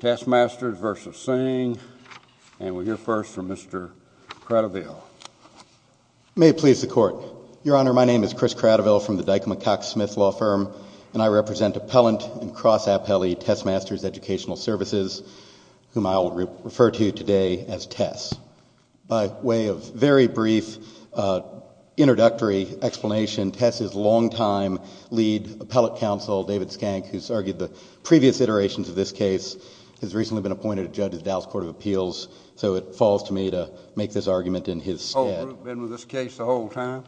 Testmasters v. Singh, and we'll hear first from Mr. Cradiville. May it please the Court. Your Honor, my name is Chris Cradiville from the Dyke & McCock Smith Law Firm, and I represent Appellant and Cross-Appellee Testmasters Educational Services, whom I will refer to today as TESS. By way of very brief introductory explanation, TESS's longtime lead appellate counsel, David Skank, who's argued the previous iterations of this case, has recently been appointed a judge of the Dallas Court of Appeals, so it falls to me to make this argument in his stead. Has the whole group been with this case the whole time?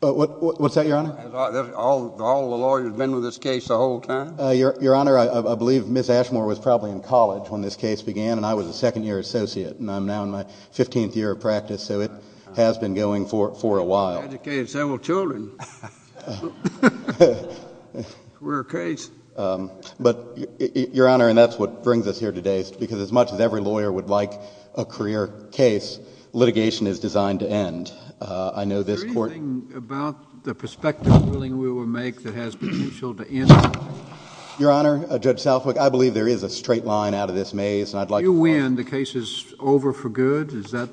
What's that, Your Honor? Has all the lawyers been with this case the whole time? Your Honor, I believe Ms. Ashmore was probably in college when this case began, and I was a second-year associate, and I'm now in my 15th year of practice, so it has been going for a while. Educated several children. Career case. But, Your Honor, and that's what brings us here today, because as much as every lawyer would like a career case, litigation is designed to end. I know this Court — Is there anything about the prospective ruling we will make that has potential to end it? Your Honor, Judge Southwick, I believe there is a straight line out of this maze, and I'd like to point — If you win, the case is over for good? Is that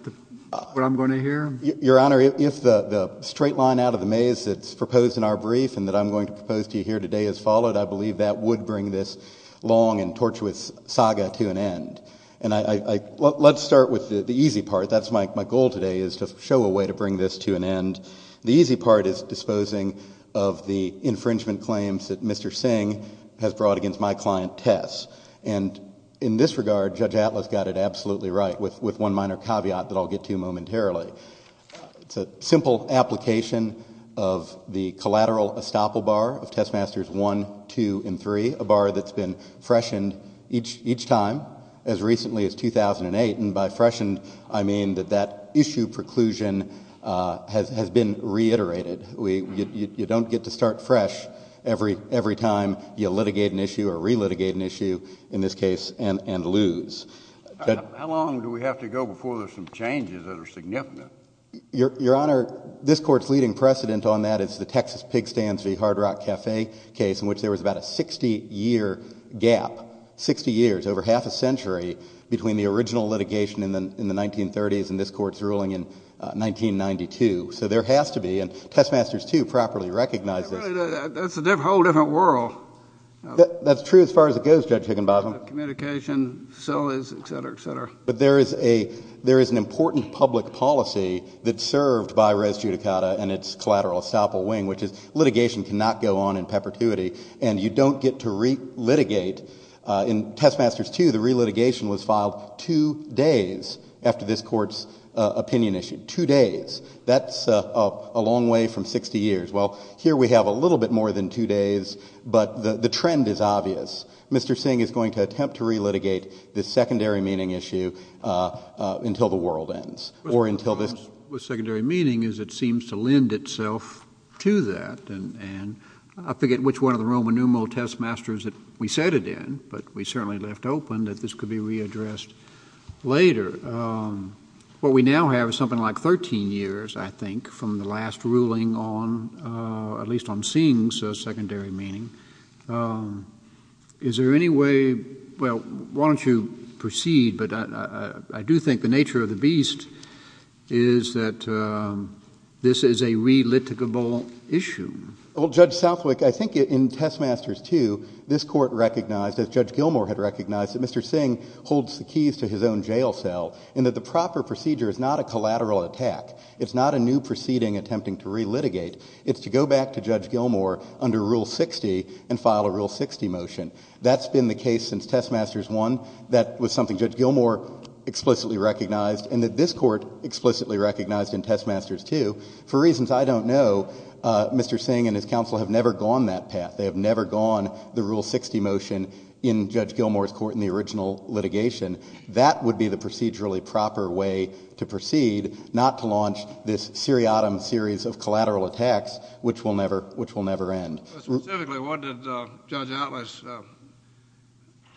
what I'm going to hear? Your Honor, if the straight line out of the maze that's proposed in our brief and that I'm going to propose to you here today is followed, I believe that would bring this long and tortuous saga to an end. And let's start with the easy part. That's my goal today, is to show a way to bring this to an end. The easy part is disposing of the infringement claims that Mr. Singh has brought against my client, Tess. And in this regard, Judge Atlas got it absolutely right, with one minor caveat that I'll get to momentarily. It's a simple application of the collateral estoppel bar of Testmasters 1, 2, and 3, a bar that's been freshened each time, as recently as 2008. And by freshened, I mean that that issue preclusion has been reiterated. You don't get to start fresh every time you litigate an issue or re-litigate an issue, in this case, and lose. How long do we have to go before there's some changes that are significant? Your Honor, this Court's leading precedent on that is the Texas pig stands v. Hard Rock Cafe case, in which there was about a 60-year gap, 60 years, over half a century, between the original litigation in the 1930s and this Court's ruling in 1992. So there has to be, and Testmasters 2 properly recognizes— That's a whole different world. That's true as far as it goes, Judge Higginbotham. Communication, facilities, et cetera, et cetera. But there is an important public policy that's served by res judicata and its collateral estoppel wing, which is litigation cannot go on in perpetuity, and you don't get to re-litigate. In Testmasters 2, the re-litigation was filed two days after this Court's opinion issue, two days. That's a long way from 60 years. Well, here we have a little bit more than two days, but the trend is obvious. Mr. Singh is going to attempt to re-litigate this secondary meaning issue until the world ends or until this— What's wrong with secondary meaning is it seems to lend itself to that, and I forget which one of the Roman numeral testmasters that we said it in, but we certainly left open that this could be readdressed later. What we now have is something like 13 years, I think, from the last ruling on—at least on Singh's secondary meaning. Is there any way—well, why don't you proceed, but I do think the nature of the beast is that this is a re-litigable issue. Well, Judge Southwick, I think in Testmasters 2, this Court recognized, as Judge Gilmour had recognized, that Mr. Singh holds the keys to his own jail cell and that the proper procedure is not a collateral attack. It's not a new proceeding attempting to re-litigate. It's to go back to Judge Gilmour under Rule 60 and file a Rule 60 motion. That's been the case since Testmasters 1. That was something Judge Gilmour explicitly recognized and that this Court explicitly recognized in Testmasters 2. For reasons I don't know, Mr. Singh and his counsel have never gone that path. They have never gone the Rule 60 motion in Judge Gilmour's Court in the original litigation. That would be the procedurally proper way to proceed, not to launch this seriatim series of collateral attacks, which will never end. Specifically, what did Judge Atlas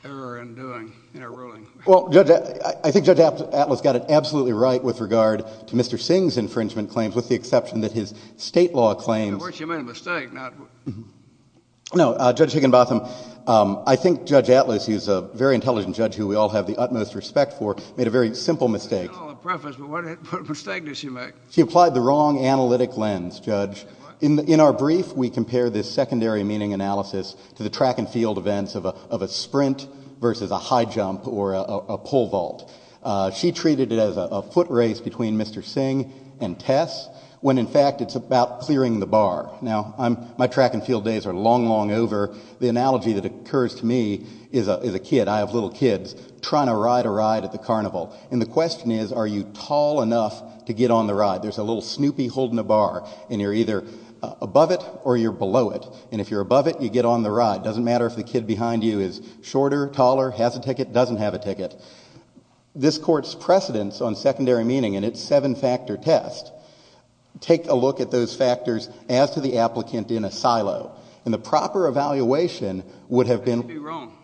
err in doing in her ruling? Well, Judge—I think Judge Atlas got it absolutely right with regard to Mr. Singh's infringement claims, with the exception that his state law claims— No, Judge Higginbotham, I think Judge Atlas, who's a very intelligent judge who we all have the utmost respect for, made a very simple mistake. She did all the preface, but what mistake did she make? She applied the wrong analytic lens, Judge. In our brief, we compare this secondary meaning analysis to the track and field events of a sprint versus a high jump or a pole vault. She treated it as a foot race between Mr. Singh and Tess, when in fact it's about clearing the bar. Now, my track and field days are long, long over. The analogy that occurs to me is a kid—I have little kids—trying to ride a ride at the carnival. And the question is, are you tall enough to get on the ride? There's a little Snoopy holding a bar, and you're either above it or you're below it. And if you're above it, you get on the ride. It doesn't matter if the kid behind you is shorter, taller, has a ticket, doesn't have a ticket. This Court's precedence on secondary meaning in its seven-factor test, take a look at those factors as to the applicant in a silo. And the proper evaluation would have been— I could be wrong.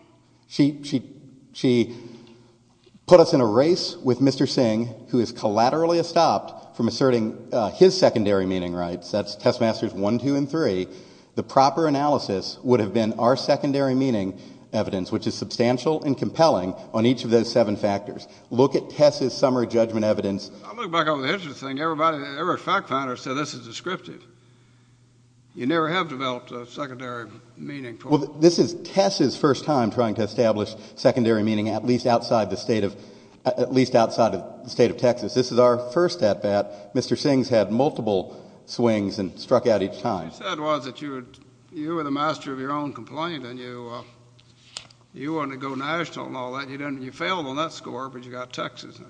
She put us in a race with Mr. Singh, who is collaterally stopped from asserting his secondary meaning rights. That's Test Masters 1, 2, and 3. The proper analysis would have been our secondary meaning evidence, which is substantial and compelling, on each of those seven factors. Look at Tess's summary judgment evidence. I look back over the history thing, every fact finder said this is descriptive. You never have developed a secondary meaning. Well, this is Tess's first time trying to establish secondary meaning, at least outside the state of Texas. This is our first at-bat. Mr. Singh's had multiple swings and struck out each time. What you said was that you were the master of your own complaint and you wanted to go national and all that. You failed on that score, but you got Texas.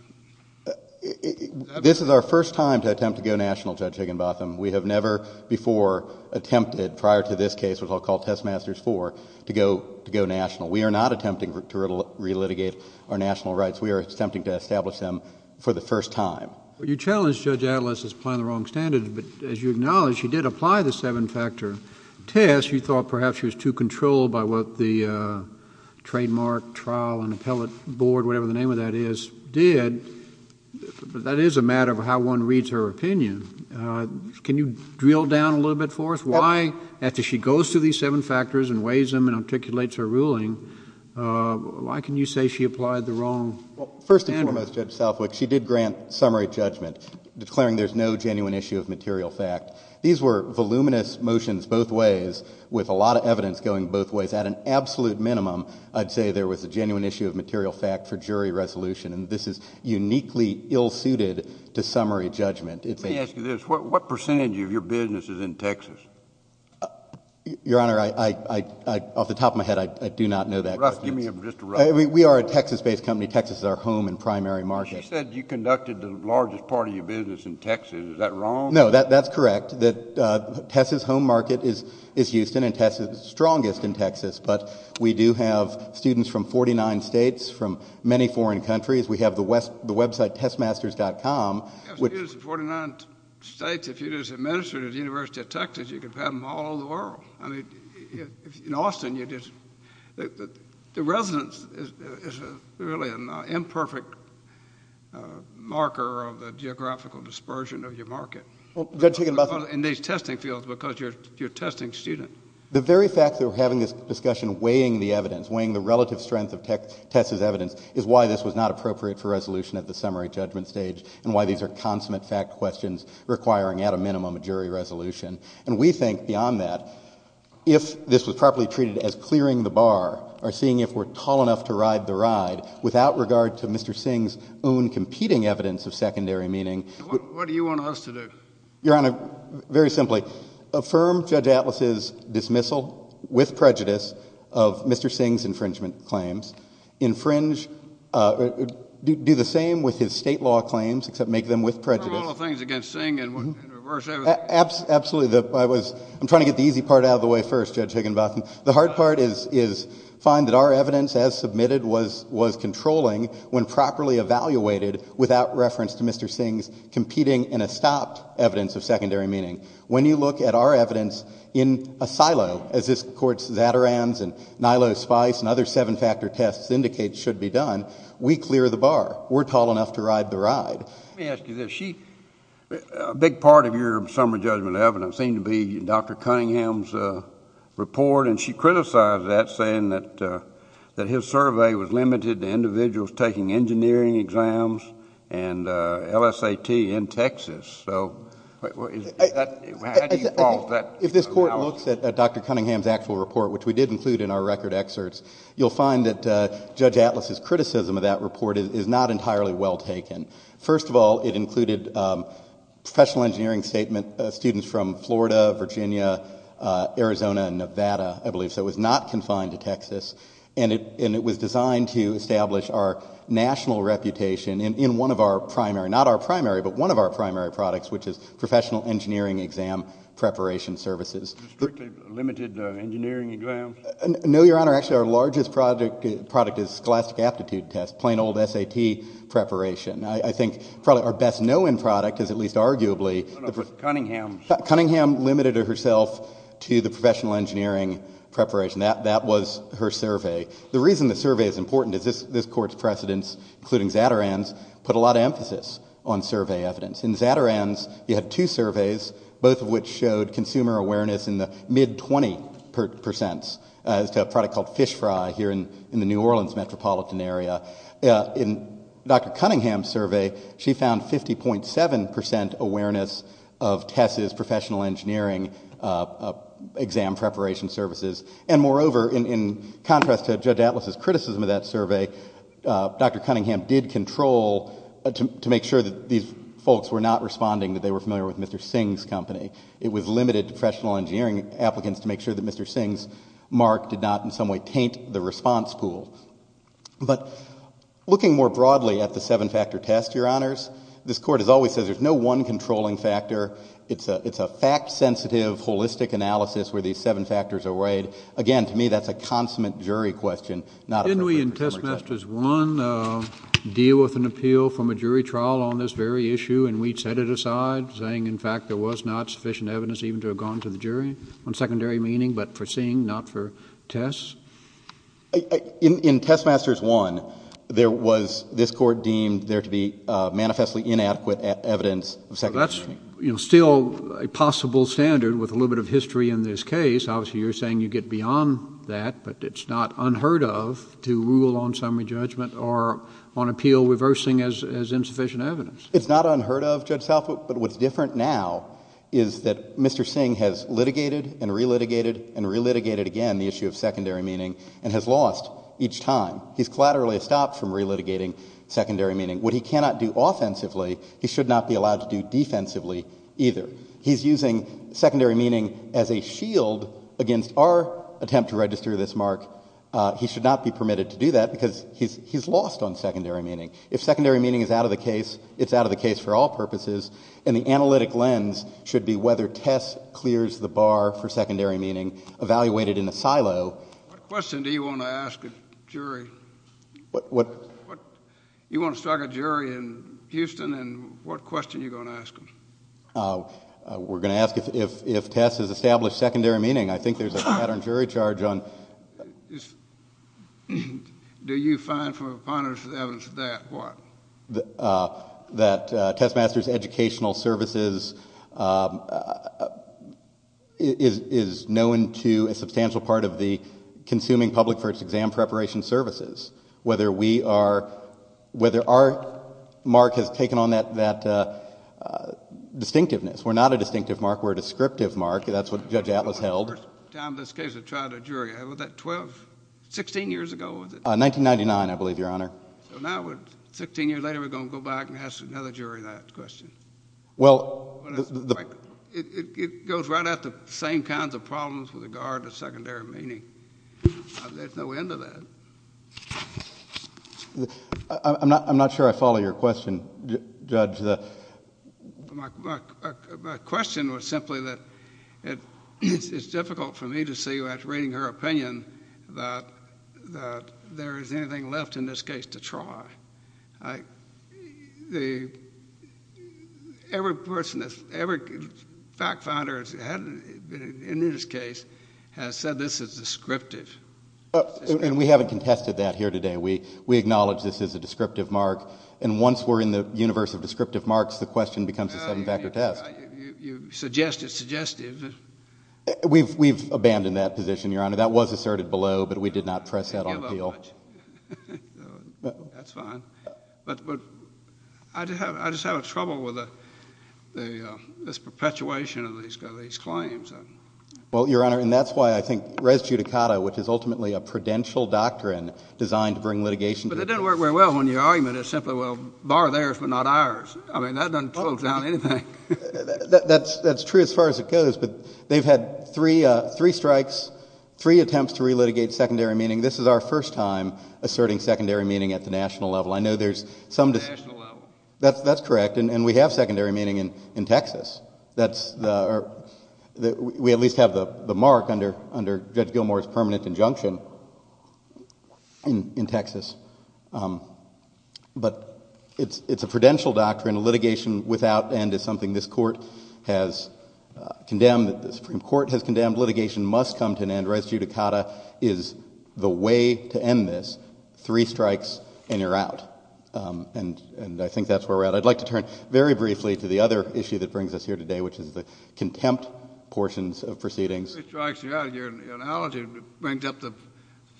This is our first time to attempt to go national, Judge Higginbotham. We have never before attempted, prior to this case, which I'll call Test Masters 4, to go national. We are not attempting to relitigate our national rights. We are attempting to establish them for the first time. You challenged Judge Atlas as applying the wrong standards, but as you acknowledged, she did apply the seven-factor test. You thought perhaps she was too controlled by what the Trademark Trial and Appellate Board, whatever the name of that is, did. But that is a matter of how one reads her opinion. Can you drill down a little bit for us? Why, after she goes through these seven factors and weighs them and articulates her ruling, why can you say she applied the wrong standards? First and foremost, Judge Southwick, she did grant summary judgment, declaring there's no genuine issue of material fact. These were voluminous motions both ways, with a lot of evidence going both ways. At an absolute minimum, I'd say there was a genuine issue of material fact for jury resolution. This is uniquely ill-suited to summary judgment. Let me ask you this. What percentage of your business is in Texas? Your Honor, off the top of my head, I do not know that. Just give me a rough estimate. We are a Texas-based company. Texas is our home and primary market. You said you conducted the largest part of your business in Texas. Is that wrong? No, that's correct. Tess's home market is Houston, and Tess is the strongest in Texas. But we do have students from 49 states, from many foreign countries. We have the website testmasters.com. You have students from 49 states. In Austin, the residence is really an imperfect marker of the geographical dispersion of your market. In these testing fields, because you're testing students. The very fact that we're having this discussion weighing the evidence, weighing the relative strength of Tess's evidence, is why this was not appropriate for resolution at the summary judgment stage and why these are consummate fact questions requiring, at a minimum, a jury resolution. And we think, beyond that, if this was properly treated as clearing the bar or seeing if we're tall enough to ride the ride, without regard to Mr. Singh's own competing evidence of secondary meaning. What do you want us to do? Your Honor, very simply. Affirm Judge Atlas's dismissal with prejudice of Mr. Singh's infringement claims. Infringe, do the same with his state law claims, except make them with prejudice. Absolutely. I'm trying to get the easy part out of the way first, Judge Higginbotham. The hard part is to find that our evidence, as submitted, was controlling when properly evaluated without reference to Mr. Singh's competing and estopped evidence of secondary meaning. When you look at our evidence in a silo, as this Court's Zaterans and Nilo Spice and other seven-factor tests indicate should be done, we clear the bar. We're tall enough to ride the ride. Let me ask you this. A big part of your summary judgment evidence seemed to be Dr. Cunningham's report, and she criticized that saying that his survey was limited to individuals taking engineering exams and LSAT in Texas. So how do you pause that? If this Court looks at Dr. Cunningham's actual report, which we did include in our record excerpts, you'll find that Judge Atlas's criticism of that report is not entirely well taken. First of all, it included professional engineering statement students from Florida, Virginia, Arizona, and Nevada, I believe. So it was not confined to Texas. And it was designed to establish our national reputation in one of our primary, not our primary, but one of our primary products, which is professional engineering exam preparation services. Strictly limited engineering exams? No, Your Honor. Actually, our largest product is scholastic aptitude test, plain old SAT preparation. I think probably our best-known product is at least arguably Cunningham's. Cunningham limited herself to the professional engineering preparation. That was her survey. The reason the survey is important is this Court's precedents, including Zatteran's, put a lot of emphasis on survey evidence. In Zatteran's, you had two surveys, both of which showed consumer awareness in the mid-20 percents, as to a product called Fish Fry here in the New Orleans metropolitan area. In Dr. Cunningham's survey, she found 50.7 percent awareness of TESS's professional engineering exam preparation services. And moreover, in contrast to Judge Atlas's criticism of that survey, Dr. Cunningham did control to make sure that these folks were not responding that they were familiar with Mr. Singh's company. It was limited to professional engineering applicants to make sure that Mr. Singh's mark did not in some way taint the response pool. But looking more broadly at the seven-factor test, Your Honors, this Court has always said there's no one controlling factor. It's a fact-sensitive, holistic analysis where these seven factors are weighed. Again, to me, that's a consummate jury question, not a professional exam question. Didn't we in Testmasters I deal with an appeal from a jury trial on this very issue, and we set it aside saying, in fact, there was not sufficient evidence even to have gone to the jury, on secondary meaning but for Singh, not for TESS? In Testmasters I, there was, this Court deemed there to be manifestly inadequate evidence of secondary meaning. That's still a possible standard with a little bit of history in this case. Obviously, you're saying you get beyond that, but it's not unheard of to rule on summary judgment or on appeal reversing as insufficient evidence. It's not unheard of, Judge Salford, but what's different now is that Mr. Singh has litigated and re-litigated and re-litigated again the issue of secondary meaning and has lost each time. He's collaterally stopped from re-litigating secondary meaning. What he cannot do offensively, he should not be allowed to do defensively either. He's using secondary meaning as a shield against our attempt to register this mark. He should not be permitted to do that because he's lost on secondary meaning. If secondary meaning is out of the case, it's out of the case for all purposes, and the analytic lens should be whether TESS clears the bar for secondary meaning evaluated in a silo. What question do you want to ask a jury? What? You want to strike a jury in Houston, and what question are you going to ask them? We're going to ask if TESS has established secondary meaning. I think there's a pattern jury charge on... Do you find for a punitive evidence that what? That TESS Masters Educational Services is known to a substantial part of the consuming public for its exam preparation services, whether our mark has taken on that distinctiveness. We're not a distinctive mark. We're a descriptive mark. That's what Judge Atlas held. This is the first time in this case I've tried a jury. What was that, 12, 16 years ago was it? 1999, I believe, Your Honor. Now, 16 years later, we're going to go back and ask another jury that question. Well... It goes right out to the same kinds of problems with regard to secondary meaning. There's no end to that. I'm not sure I follow your question, Judge. My question was simply that it's difficult for me to see, after reading her opinion, that there is anything left in this case to try. Every person, every fact finder in this case has said this is descriptive. We haven't contested that here today. We acknowledge this is a descriptive mark. And once we're in the universe of descriptive marks, the question becomes a seven-factor test. You suggest it's suggestive. We've abandoned that position, Your Honor. That was asserted below, but we did not press that on appeal. That's fine. But I just have trouble with this perpetuation of these claims. Well, Your Honor, and that's why I think res judicata, which is ultimately a prudential doctrine designed to bring litigation... Well, bar theirs but not ours. I mean, that doesn't close down anything. That's true as far as it goes. But they've had three strikes, three attempts to relitigate secondary meaning. This is our first time asserting secondary meaning at the national level. I know there's some... At the national level. That's correct. And we have secondary meaning in Texas. We at least have the mark under Judge Gilmour's permanent injunction in Texas. But it's a prudential doctrine. Litigation without end is something this Court has condemned. The Supreme Court has condemned litigation must come to an end. Res judicata is the way to end this. Three strikes and you're out. And I think that's where we're at. I'd like to turn very briefly to the other issue that brings us here today, which is the contempt portions of proceedings. Three strikes and you're out. Your analogy brings up the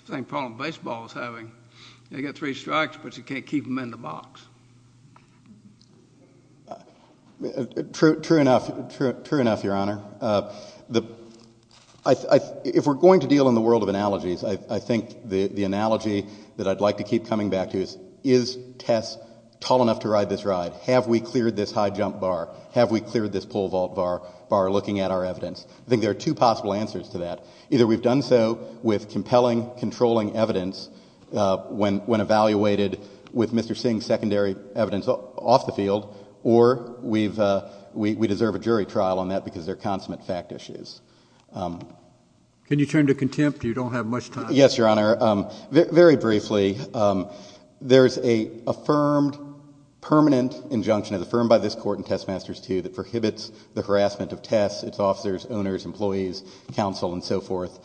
same problem baseball is having. You get three strikes, but you can't keep them in the box. True enough, Your Honor. If we're going to deal in the world of analogies, I think the analogy that I'd like to keep coming back to is, is Tess tall enough to ride this ride? Have we cleared this high jump bar? Have we cleared this pole vault bar, looking at our evidence? I think there are two possible answers to that. Either we've done so with compelling, controlling evidence, when evaluated with Mr. Singh's secondary evidence off the field, or we deserve a jury trial on that because they're consummate fact issues. Can you turn to contempt? You don't have much time. Yes, Your Honor. Very briefly, there's an affirmed permanent injunction, as affirmed by this court in Testmasters II, that prohibits the harassment of Tess, its officers, owners, employees, counsel, and so forth.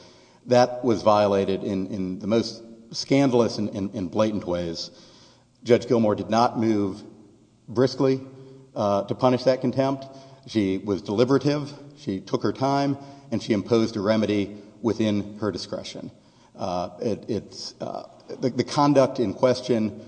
That was violated in the most scandalous and blatant ways. Judge Gilmour did not move briskly to punish that contempt. She was deliberative. She took her time, and she imposed a remedy within her discretion. The conduct in question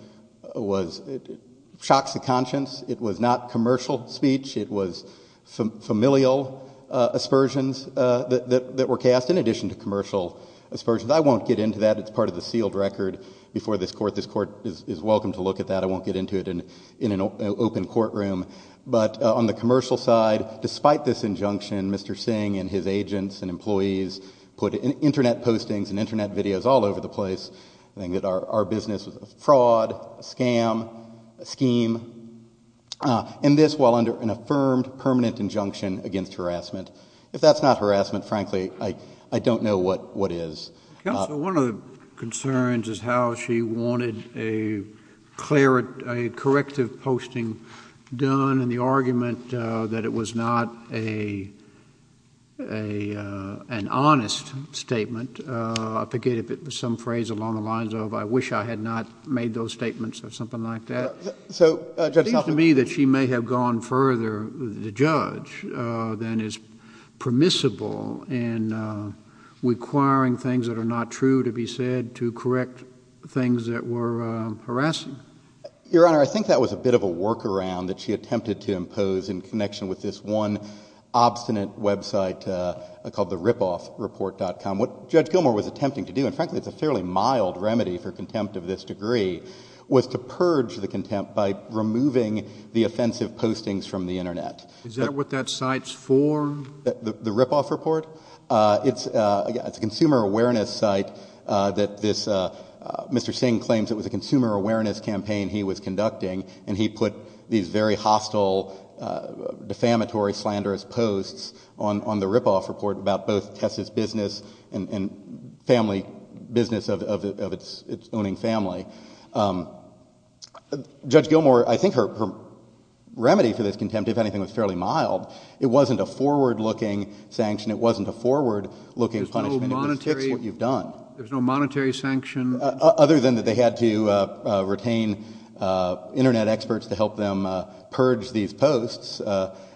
shocks the conscience. It was not commercial speech. It was familial aspersions that were cast in addition to commercial aspersions. I won't get into that. It's part of the sealed record before this court. This court is welcome to look at that. I won't get into it in an open courtroom. But on the commercial side, despite this injunction, Mr. Singh and his agents and employees put Internet postings and Internet videos all over the place. I think that our business was a fraud, a scam, a scheme, and this while under an affirmed permanent injunction against harassment. If that's not harassment, frankly, I don't know what is. Counsel, one of the concerns is how she wanted a corrective posting done and the argument that it was not an honest statement. I forget if it was some phrase along the lines of, I wish I had not made those statements or something like that. It seems to me that she may have gone further, the judge, than is permissible in requiring things that are not true to be said to correct things that were harassing. Your Honor, I think that was a bit of a workaround that she attempted to impose in connection with this one obstinate website called the ripoffreport.com. What Judge Gilmour was attempting to do, and frankly it's a fairly mild remedy for contempt of this degree, was to purge the contempt by removing the offensive postings from the Internet. Is that what that site's for? The ripoff report? It's a consumer awareness site. Mr. Singh claims it was a consumer awareness campaign he was conducting and he put these very hostile, defamatory, slanderous posts on the ripoff report about both Tess's business and the business of its owning family. Judge Gilmour, I think her remedy for this contempt, if anything, was fairly mild. It wasn't a forward-looking sanction. It wasn't a forward-looking punishment. It was fix what you've done. There's no monetary sanction? Other than that they had to retain Internet experts to help them purge these posts.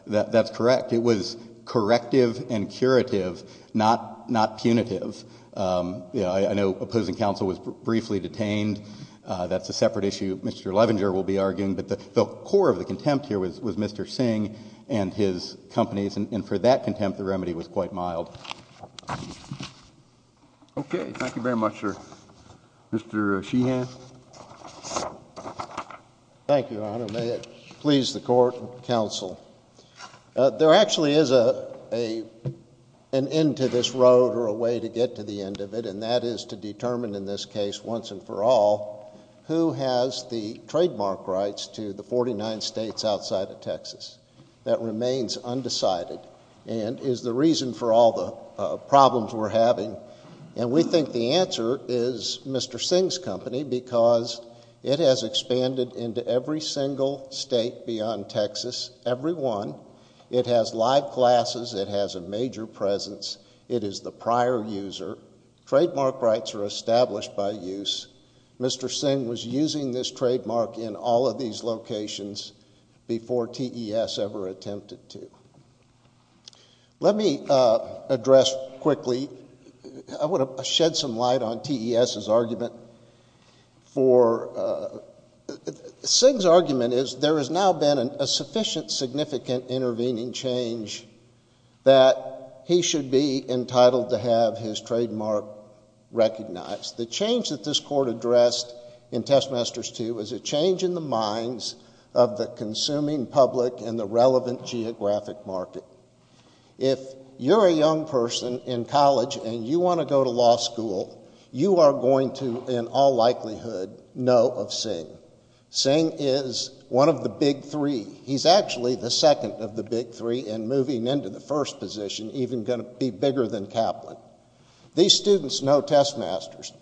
That's correct. It was corrective and curative, not punitive. I know opposing counsel was briefly detained. That's a separate issue Mr. Levenger will be arguing. But the core of the contempt here was Mr. Singh and his companies, and for that contempt the remedy was quite mild. Okay. Thank you very much, sir. Mr. Sheehan. Thank you, Your Honor. May it please the Court and counsel. There actually is an end to this road or a way to get to the end of it, and that is to determine in this case once and for all who has the trademark rights to the 49 states outside of Texas. That remains undecided and is the reason for all the problems we're having. And we think the answer is Mr. Singh's company because it has expanded into every single state beyond Texas, every one. It has live classes. It has a major presence. It is the prior user. Trademark rights are established by use. Mr. Singh was using this trademark in all of these locations before TES ever attempted to. Let me address quickly. I want to shed some light on TES's argument. Singh's argument is there has now been a sufficient, significant intervening change that he should be entitled to have his trademark recognized. The change that this Court addressed in Testmasters 2 is a change in the minds of the consuming public and the relevant geographic market. If you're a young person in college and you want to go to law school, you are going to in all likelihood know of Singh. Singh is one of the big three. He's actually the second of the big three and moving into the first position, even going to be bigger than Kaplan. These students know Testmasters.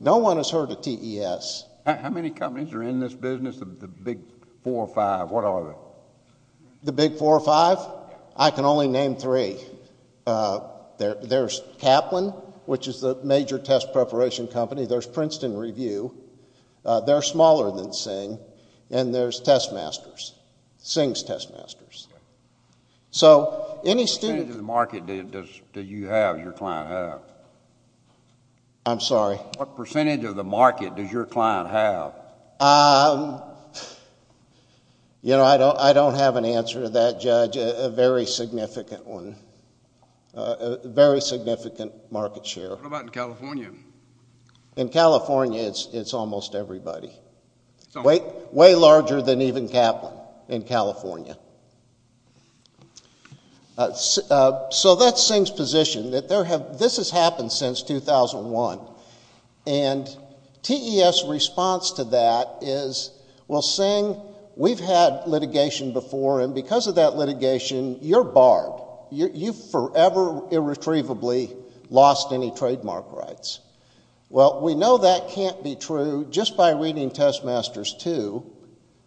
No one has heard of TES. How many companies are in this business, the big four or five? What are they? The big four or five? I can only name three. There's Kaplan, which is the major test preparation company. There's Princeton Review. They're smaller than Singh. And there's Testmasters, Singh's Testmasters. What percentage of the market do you have your client have? I'm sorry? What percentage of the market does your client have? You know, I don't have an answer to that, Judge. A very significant one. A very significant market share. What about in California? In California, it's almost everybody. Way larger than even Kaplan in California. So that's Singh's position, that this has happened since 2001. And TES's response to that is, well, Singh, we've had litigation before, and because of that litigation, you're barred. You've forever irretrievably lost any trademark rights. Well, we know that can't be true. Just by reading Testmasters 2,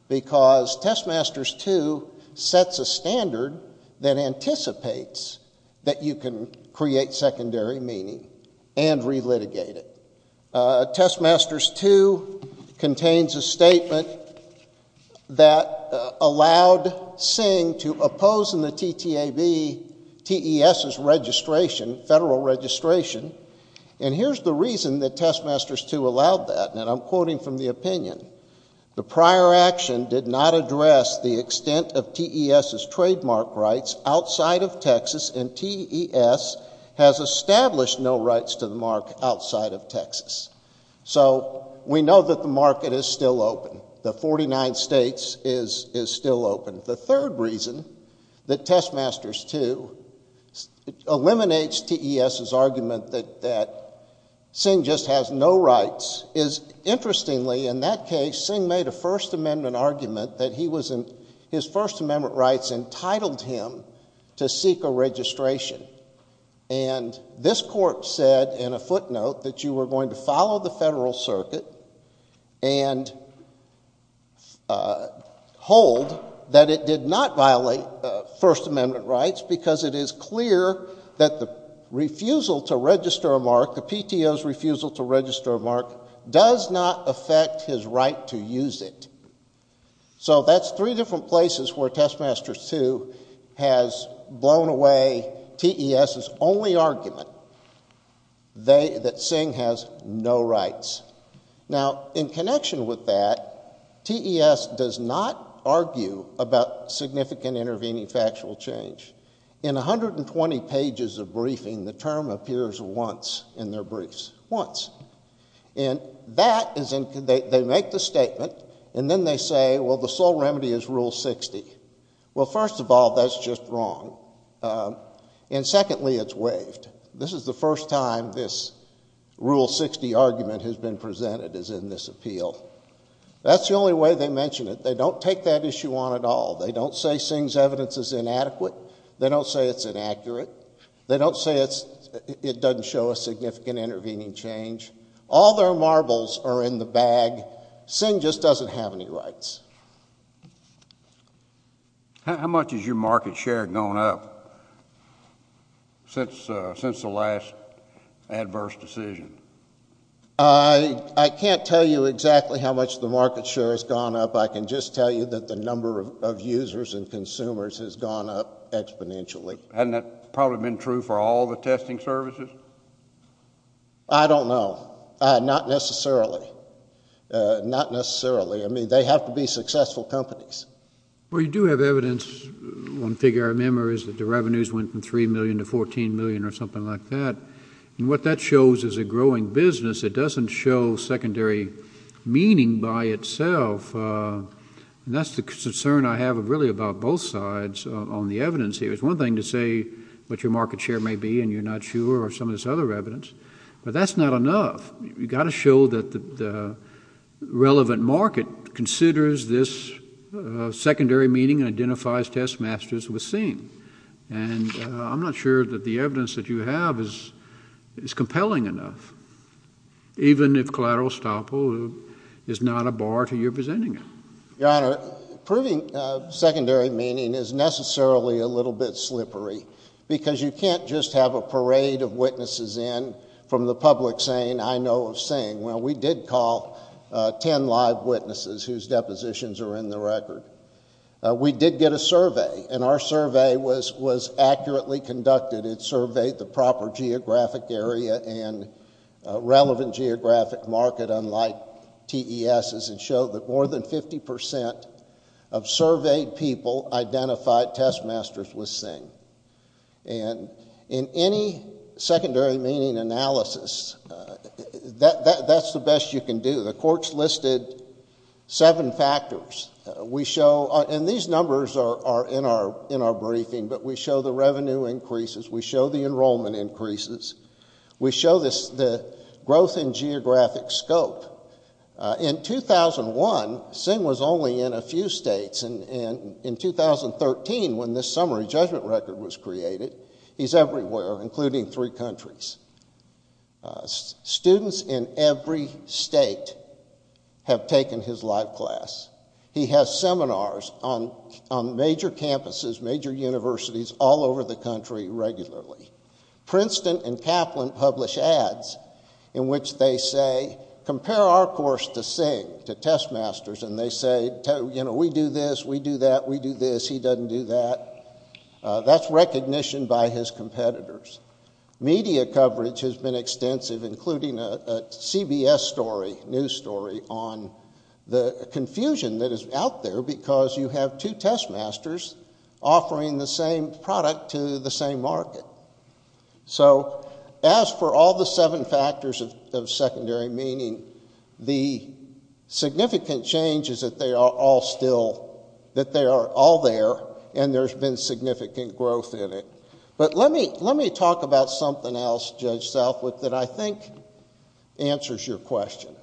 because Testmasters 2 sets a standard that anticipates that you can create secondary meaning and relitigate it. Testmasters 2 contains a statement that allowed Singh to oppose in the TTAB TES's registration, federal registration. And here's the reason that Testmasters 2 allowed that. And I'm quoting from the opinion. The prior action did not address the extent of TES's trademark rights outside of Texas, and TES has established no rights to the mark outside of Texas. So we know that the market is still open. The 49 states is still open. The third reason that Testmasters 2 eliminates TES's argument that Singh just has no rights is, interestingly, in that case, Singh made a First Amendment argument that his First Amendment rights entitled him to seek a registration. And this court said in a footnote that you were going to follow the federal circuit and hold that it did not violate First Amendment rights because it is clear that the refusal to register a mark, the PTO's refusal to register a mark, does not affect his right to use it. So that's three different places where Testmasters 2 has blown away TES's only argument, that Singh has no rights. Now, in connection with that, TES does not argue about significant intervening factual change. In 120 pages of briefing, the term appears once in their briefs. Once. And that is, they make the statement, and then they say, well, the sole remedy is Rule 60. Well, first of all, that's just wrong. And secondly, it's waived. This is the first time this Rule 60 argument has been presented as in this appeal. That's the only way they mention it. They don't take that issue on at all. They don't say Singh's evidence is inadequate. They don't say it's inaccurate. They don't say it doesn't show a significant intervening change. All their marbles are in the bag. Singh just doesn't have any rights. How much has your market share gone up since the last adverse decision? I can't tell you exactly how much the market share has gone up. I can just tell you that the number of users and consumers has gone up exponentially. Hasn't that probably been true for all the testing services? I don't know. Not necessarily. Not necessarily. I mean, they have to be successful companies. Well, you do have evidence, one figure I remember, is that the revenues went from $3 million to $14 million or something like that. And what that shows is a growing business. It doesn't show secondary meaning by itself. And that's the concern I have really about both sides on the evidence here. It's one thing to say what your market share may be, and you're not sure, or some of this other evidence, but that's not enough. You've got to show that the relevant market considers this secondary meaning and identifies test masters with Singh. And I'm not sure that the evidence that you have is compelling enough, even if collateral estoppel is not a bar to your presenting it. Your Honor, proving secondary meaning is necessarily a little bit slippery because you can't just have a parade of witnesses in from the public saying, I know of Singh. Well, we did call ten live witnesses whose depositions are in the record. We did get a survey, and our survey was accurately conducted. It surveyed the proper geographic area and relevant geographic market, unlike TESs, and showed that more than 50% of surveyed people identified test masters with Singh. And in any secondary meaning analysis, that's the best you can do. The court's listed seven factors. And these numbers are in our briefing, but we show the revenue increases. We show the enrollment increases. We show the growth in geographic scope. In 2001, Singh was only in a few states. In 2013, when this summary judgment record was created, he's everywhere, including three countries. Students in every state have taken his live class. He has seminars on major campuses, major universities, all over the country regularly. Princeton and Kaplan publish ads in which they say, compare our course to Singh, to test masters, and they say, you know, we do this, we do that, we do this, he doesn't do that. That's recognition by his competitors. Media coverage has been extensive, including a CBS story, news story, on the confusion that is out there because you have two test masters offering the same product to the same market. So as for all the seven factors of secondary meaning, the significant change is that they are all still, that they are all there, and there's been significant growth in it. But let me talk about something else, Judge Southwick, that I think answers your question.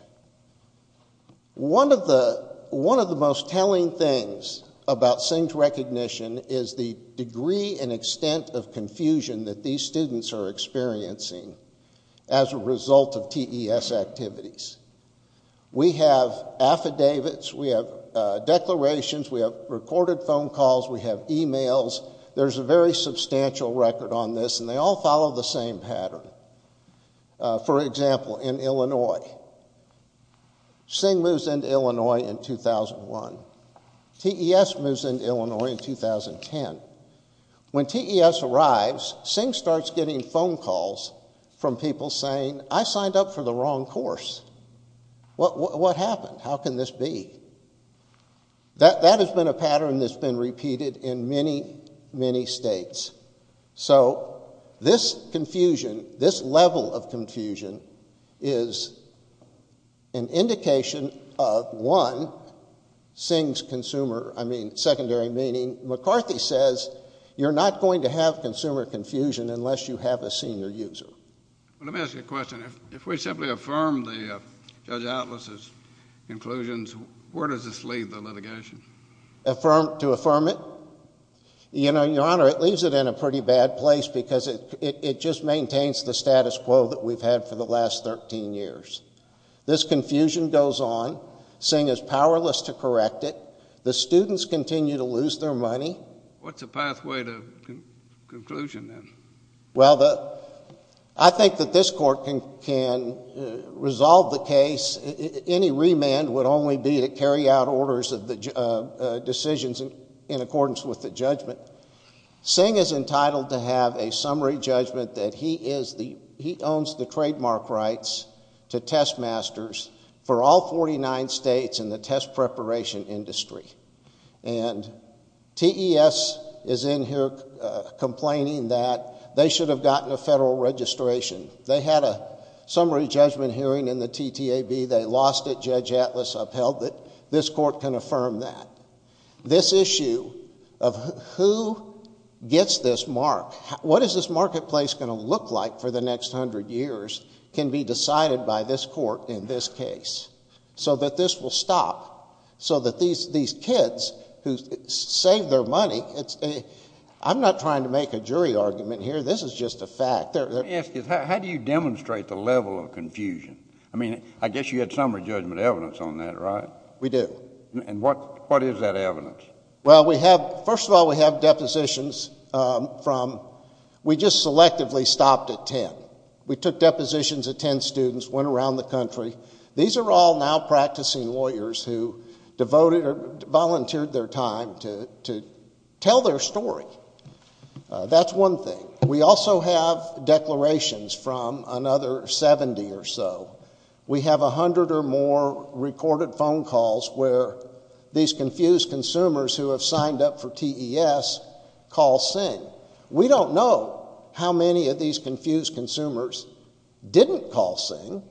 One of the most telling things about Singh's recognition is the degree and extent of confusion that these students are experiencing as a result of TES activities. We have affidavits, we have declarations, we have recorded phone calls, we have e-mails, there's a very substantial record on this, and they all follow the same pattern. For example, in Illinois, Singh moves into Illinois in 2001. TES moves into Illinois in 2010. When TES arrives, Singh starts getting phone calls from people saying, I signed up for the wrong course. What happened? How can this be? That has been a pattern that's been repeated in many, many states. So this confusion, this level of confusion, is an indication of, one, Singh's consumer, I mean, secondary meaning. McCarthy says you're not going to have consumer confusion unless you have a senior user. Let me ask you a question. If we simply affirm Judge Atlas's conclusions, where does this leave the litigation? To affirm it? Your Honor, it leaves it in a pretty bad place because it just maintains the status quo that we've had for the last 13 years. This confusion goes on. Singh is powerless to correct it. The students continue to lose their money. What's the pathway to conclusion then? Well, I think that this court can resolve the case. Any remand would only be to carry out orders of decisions in accordance with the judgment. Singh is entitled to have a summary judgment that he owns the trademark rights to test masters for all 49 states in the test preparation industry. And TES is in here complaining that they should have gotten a federal registration. They had a summary judgment hearing in the TTAB. They lost it. Judge Atlas upheld it. This court can affirm that. This issue of who gets this mark, what is this marketplace going to look like for the next 100 years, can be decided by this court in this case so that this will stop, so that these kids who saved their money, I'm not trying to make a jury argument here. This is just a fact. Let me ask you, how do you demonstrate the level of confusion? I mean, I guess you had summary judgment evidence on that, right? We do. And what is that evidence? Well, first of all, we have depositions from we just selectively stopped at 10. We took depositions at 10 students, went around the country. These are all now practicing lawyers who devoted or volunteered their time to tell their story. That's one thing. We also have declarations from another 70 or so. We have 100 or more recorded phone calls where these confused consumers who have signed up for TES call SING. We don't know how many of these confused consumers didn't call SING.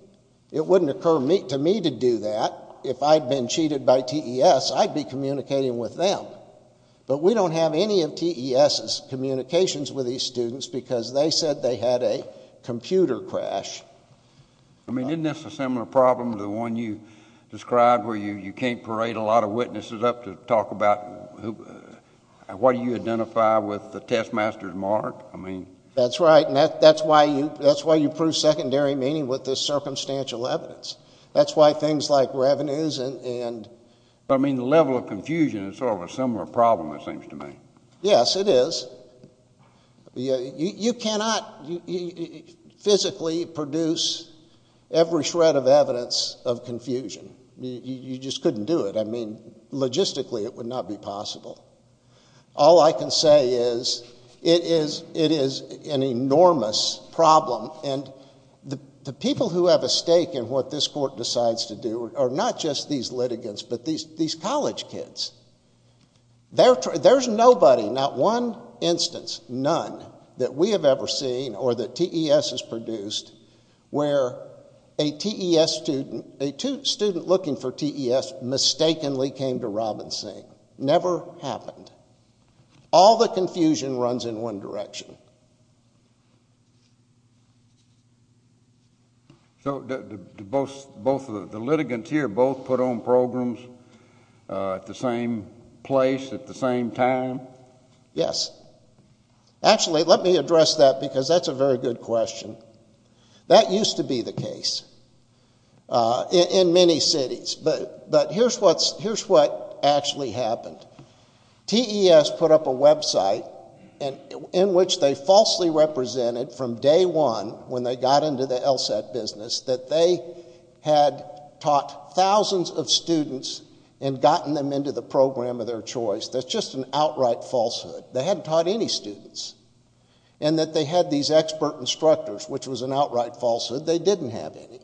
It wouldn't occur to me to do that. If I'd been cheated by TES, I'd be communicating with them. But we don't have any of TES's communications with these students because they said they had a computer crash. I mean, isn't this a similar problem to the one you described where you can't parade a lot of witnesses up to talk about what do you identify with the TES master's mark? That's right, and that's why you prove secondary meaning with this circumstantial evidence. That's why things like revenues and... I mean, the level of confusion is sort of a similar problem, it seems to me. Yes, it is. You cannot physically produce every shred of evidence of confusion. You just couldn't do it. I mean, logistically it would not be possible. All I can say is it is an enormous problem, and the people who have a stake in what this court decides to do are not just these litigants but these college kids. There's nobody, not one instance, none, that we have ever seen or that TES has produced where a TES student, a student looking for TES, mistakenly came to Robinson. Never happened. All the confusion runs in one direction. So the litigants here both put on programs at the same place at the same time? Yes. Actually, let me address that because that's a very good question. That used to be the case in many cities, but here's what actually happened. TES put up a website in which they falsely represented from day one, when they got into the LSAT business, that they had taught thousands of students and gotten them into the program of their choice. That's just an outright falsehood. They hadn't taught any students. And that they had these expert instructors, which was an outright falsehood. They didn't have any.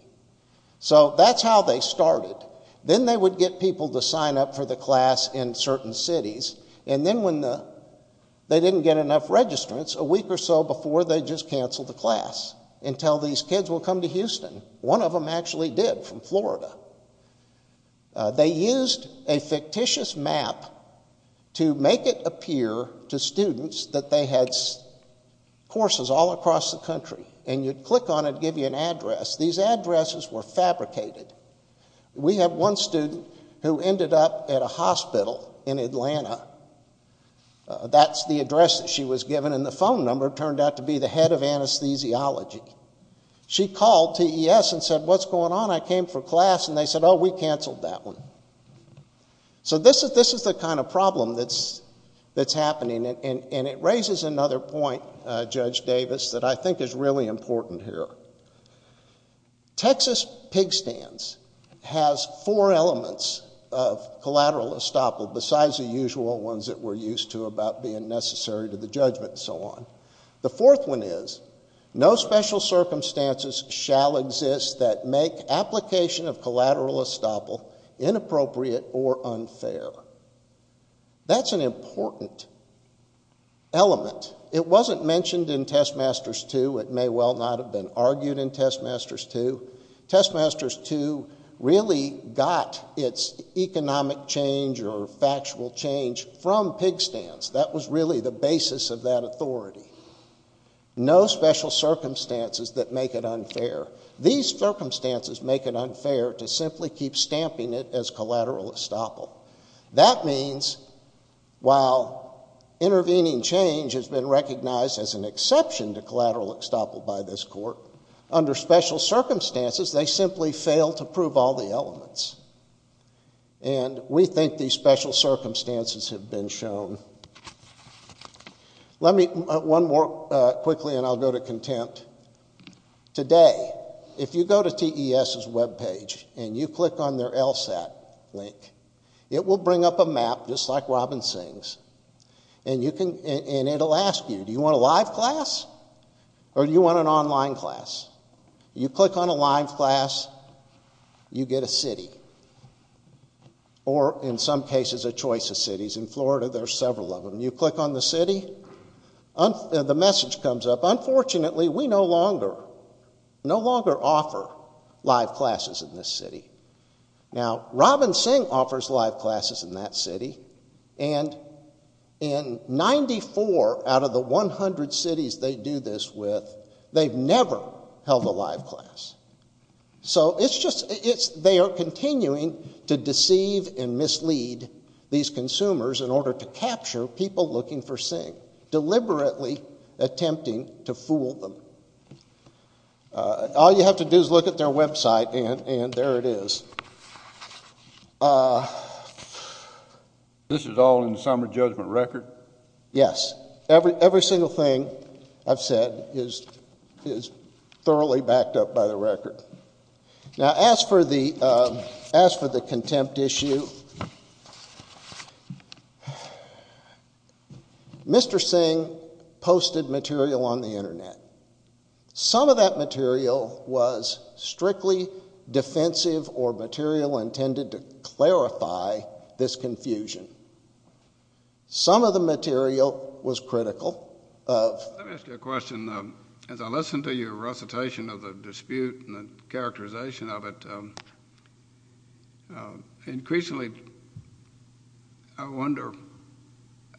So that's how they started. Then they would get people to sign up for the class in certain cities, and then when they didn't get enough registrants, a week or so before, they'd just cancel the class until these kids would come to Houston. One of them actually did, from Florida. They used a fictitious map to make it appear to students that they had courses all across the country, and you'd click on it, give you an address. These addresses were fabricated. We had one student who ended up at a hospital in Atlanta. That's the address that she was given, and the phone number turned out to be the head of anesthesiology. She called TES and said, what's going on? I came for class, and they said, oh, we canceled that one. So this is the kind of problem that's happening, and it raises another point, Judge Davis, that I think is really important here. Texas pig stands has four elements of collateral estoppel besides the usual ones that we're used to about being necessary to the judgment and so on. The fourth one is no special circumstances shall exist that make application of collateral estoppel inappropriate or unfair. That's an important element. It wasn't mentioned in Testmasters 2. It may well not have been argued in Testmasters 2. Testmasters 2 really got its economic change or factual change from pig stands. That was really the basis of that authority. No special circumstances that make it unfair. These circumstances make it unfair to simply keep stamping it as collateral estoppel. That means while intervening change has been recognized as an exception to collateral estoppel by this court, under special circumstances they simply fail to prove all the elements. And we think these special circumstances have been shown. One more quickly, and I'll go to contempt. Today, if you go to TES's web page and you click on their LSAT link, it will bring up a map, just like Robin Sings, and it will ask you, do you want a live class or do you want an online class? You click on a live class, you get a city. Or, in some cases, a choice of cities. In Florida, there are several of them. You click on the city, the message comes up. Unfortunately, we no longer offer live classes in this city. Now, Robin Sing offers live classes in that city, and in 94 out of the 100 cities they do this with, they've never held a live class. So they are continuing to deceive and mislead these consumers in order to capture people looking for Sing, deliberately attempting to fool them. All you have to do is look at their website, and there it is. This is all in the summary judgment record? Yes. Yes, every single thing I've said is thoroughly backed up by the record. Now, as for the contempt issue, Mr. Sing posted material on the Internet. Some of that material was strictly defensive or material intended to clarify this confusion. Some of the material was critical. Let me ask you a question. As I listen to your recitation of the dispute and the characterization of it, increasingly I wonder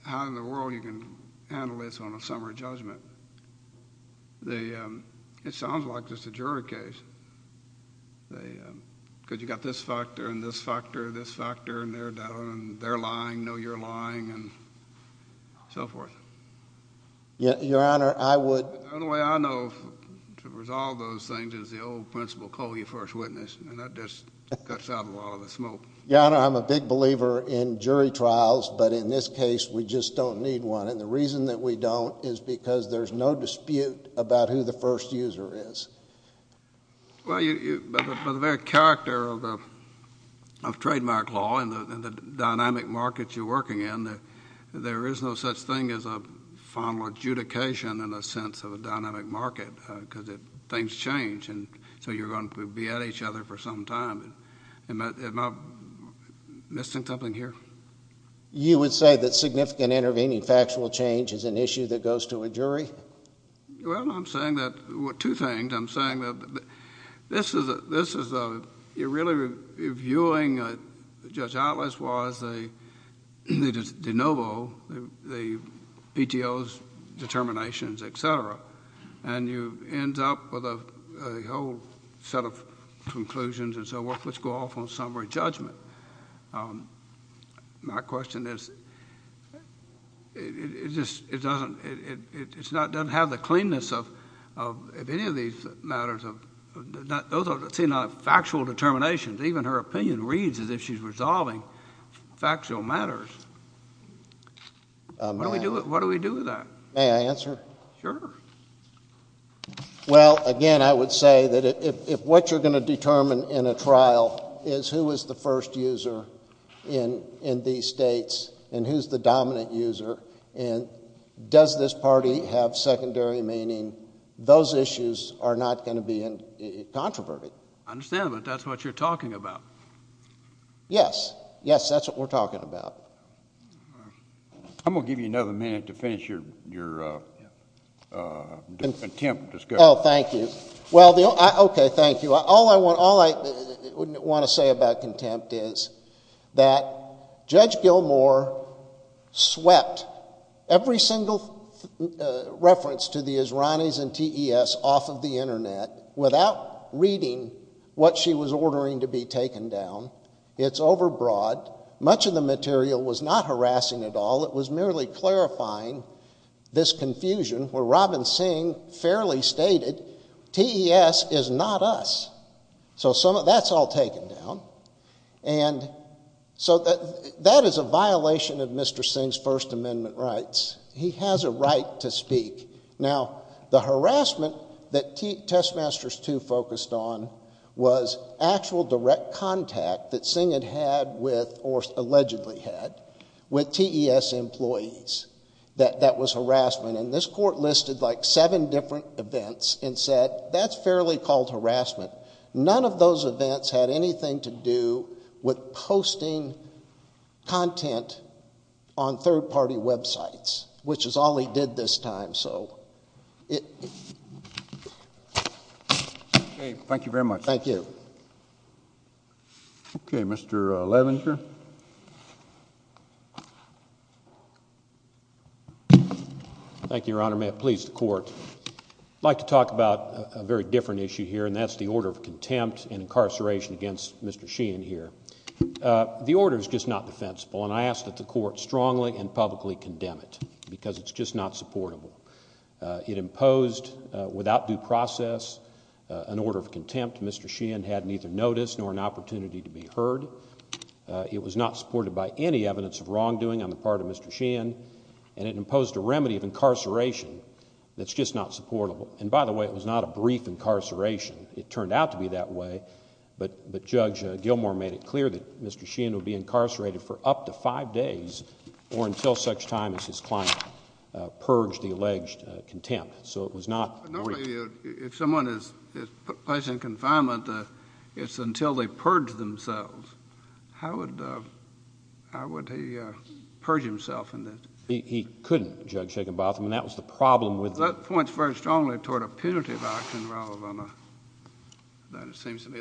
how in the world you can handle this on a summary judgment. It sounds like just a jury case. Because you've got this factor and this factor and this factor, and they're lying, know you're lying, and so forth. Your Honor, I would— The only way I know to resolve those things is the old principle, call your first witness, and that just cuts out a lot of the smoke. Your Honor, I'm a big believer in jury trials, but in this case we just don't need one, and the reason that we don't is because there's no dispute about who the first user is. Well, by the very character of trademark law and the dynamic market you're working in, there is no such thing as a final adjudication in the sense of a dynamic market because things change, and so you're going to be at each other for some time. Am I missing something here? You would say that significant intervening factual change is an issue that goes to a jury? Well, I'm saying that—two things. I'm saying that this is a—you're really reviewing, Judge Atlas was, the de novo, the PTO's determinations, et cetera, and you end up with a whole set of conclusions and so forth which go off on summary judgment. My question is, it doesn't have the cleanness of any of these matters. Those seem like factual determinations. Even her opinion reads as if she's resolving factual matters. What do we do with that? May I answer? Sure. Well, again, I would say that if what you're going to determine in a trial is who is the first user in these states and who's the dominant user and does this party have secondary meaning, those issues are not going to be controverted. I understand, but that's what you're talking about. Yes. Yes, that's what we're talking about. I'm going to give you another minute to finish your attempt. Oh, thank you. Okay, thank you. All I want to say about contempt is that Judge Gilmour swept every single reference to the Israelis and TES off of the Internet without reading what she was ordering to be taken down. It's overbroad. Much of the material was not harassing at all. It was merely clarifying this confusion where Robin Singh fairly stated, TES is not us. So that's all taken down. And so that is a violation of Mr. Singh's First Amendment rights. He has a right to speak. Now, the harassment that Testmasters II focused on was actual direct contact that Singh had had with, or allegedly had, with TES employees. That was harassment. And this Court listed like seven different events and said that's fairly called harassment. None of those events had anything to do with posting content on third-party websites, which is all he did this time. Okay, thank you very much. Thank you. Okay, Mr. Levenger. Thank you, Your Honor. May it please the Court. I'd like to talk about a very different issue here, and that's the order of contempt and incarceration against Mr. Sheehan here. The order is just not defensible, and I ask that the Court strongly and publicly condemn it because it's just not supportable. It imposed, without due process, an order of contempt. Mr. Sheehan had neither notice nor an opportunity to be heard. It was not supported by any evidence of wrongdoing on the part of Mr. Sheehan, and it imposed a remedy of incarceration that's just not supportable. And by the way, it was not a brief incarceration. It turned out to be that way, but Judge Gilmour made it clear that Mr. Sheehan would be incarcerated for up to five days or until such time as his client purged the alleged contempt. So it was not brief. Normally, if someone is placed in confinement, it's until they purge themselves. How would he purge himself in this? He couldn't, Judge Shakenbotham, and that was the problem with it. That points very strongly toward a punitive action rather than it seems to be.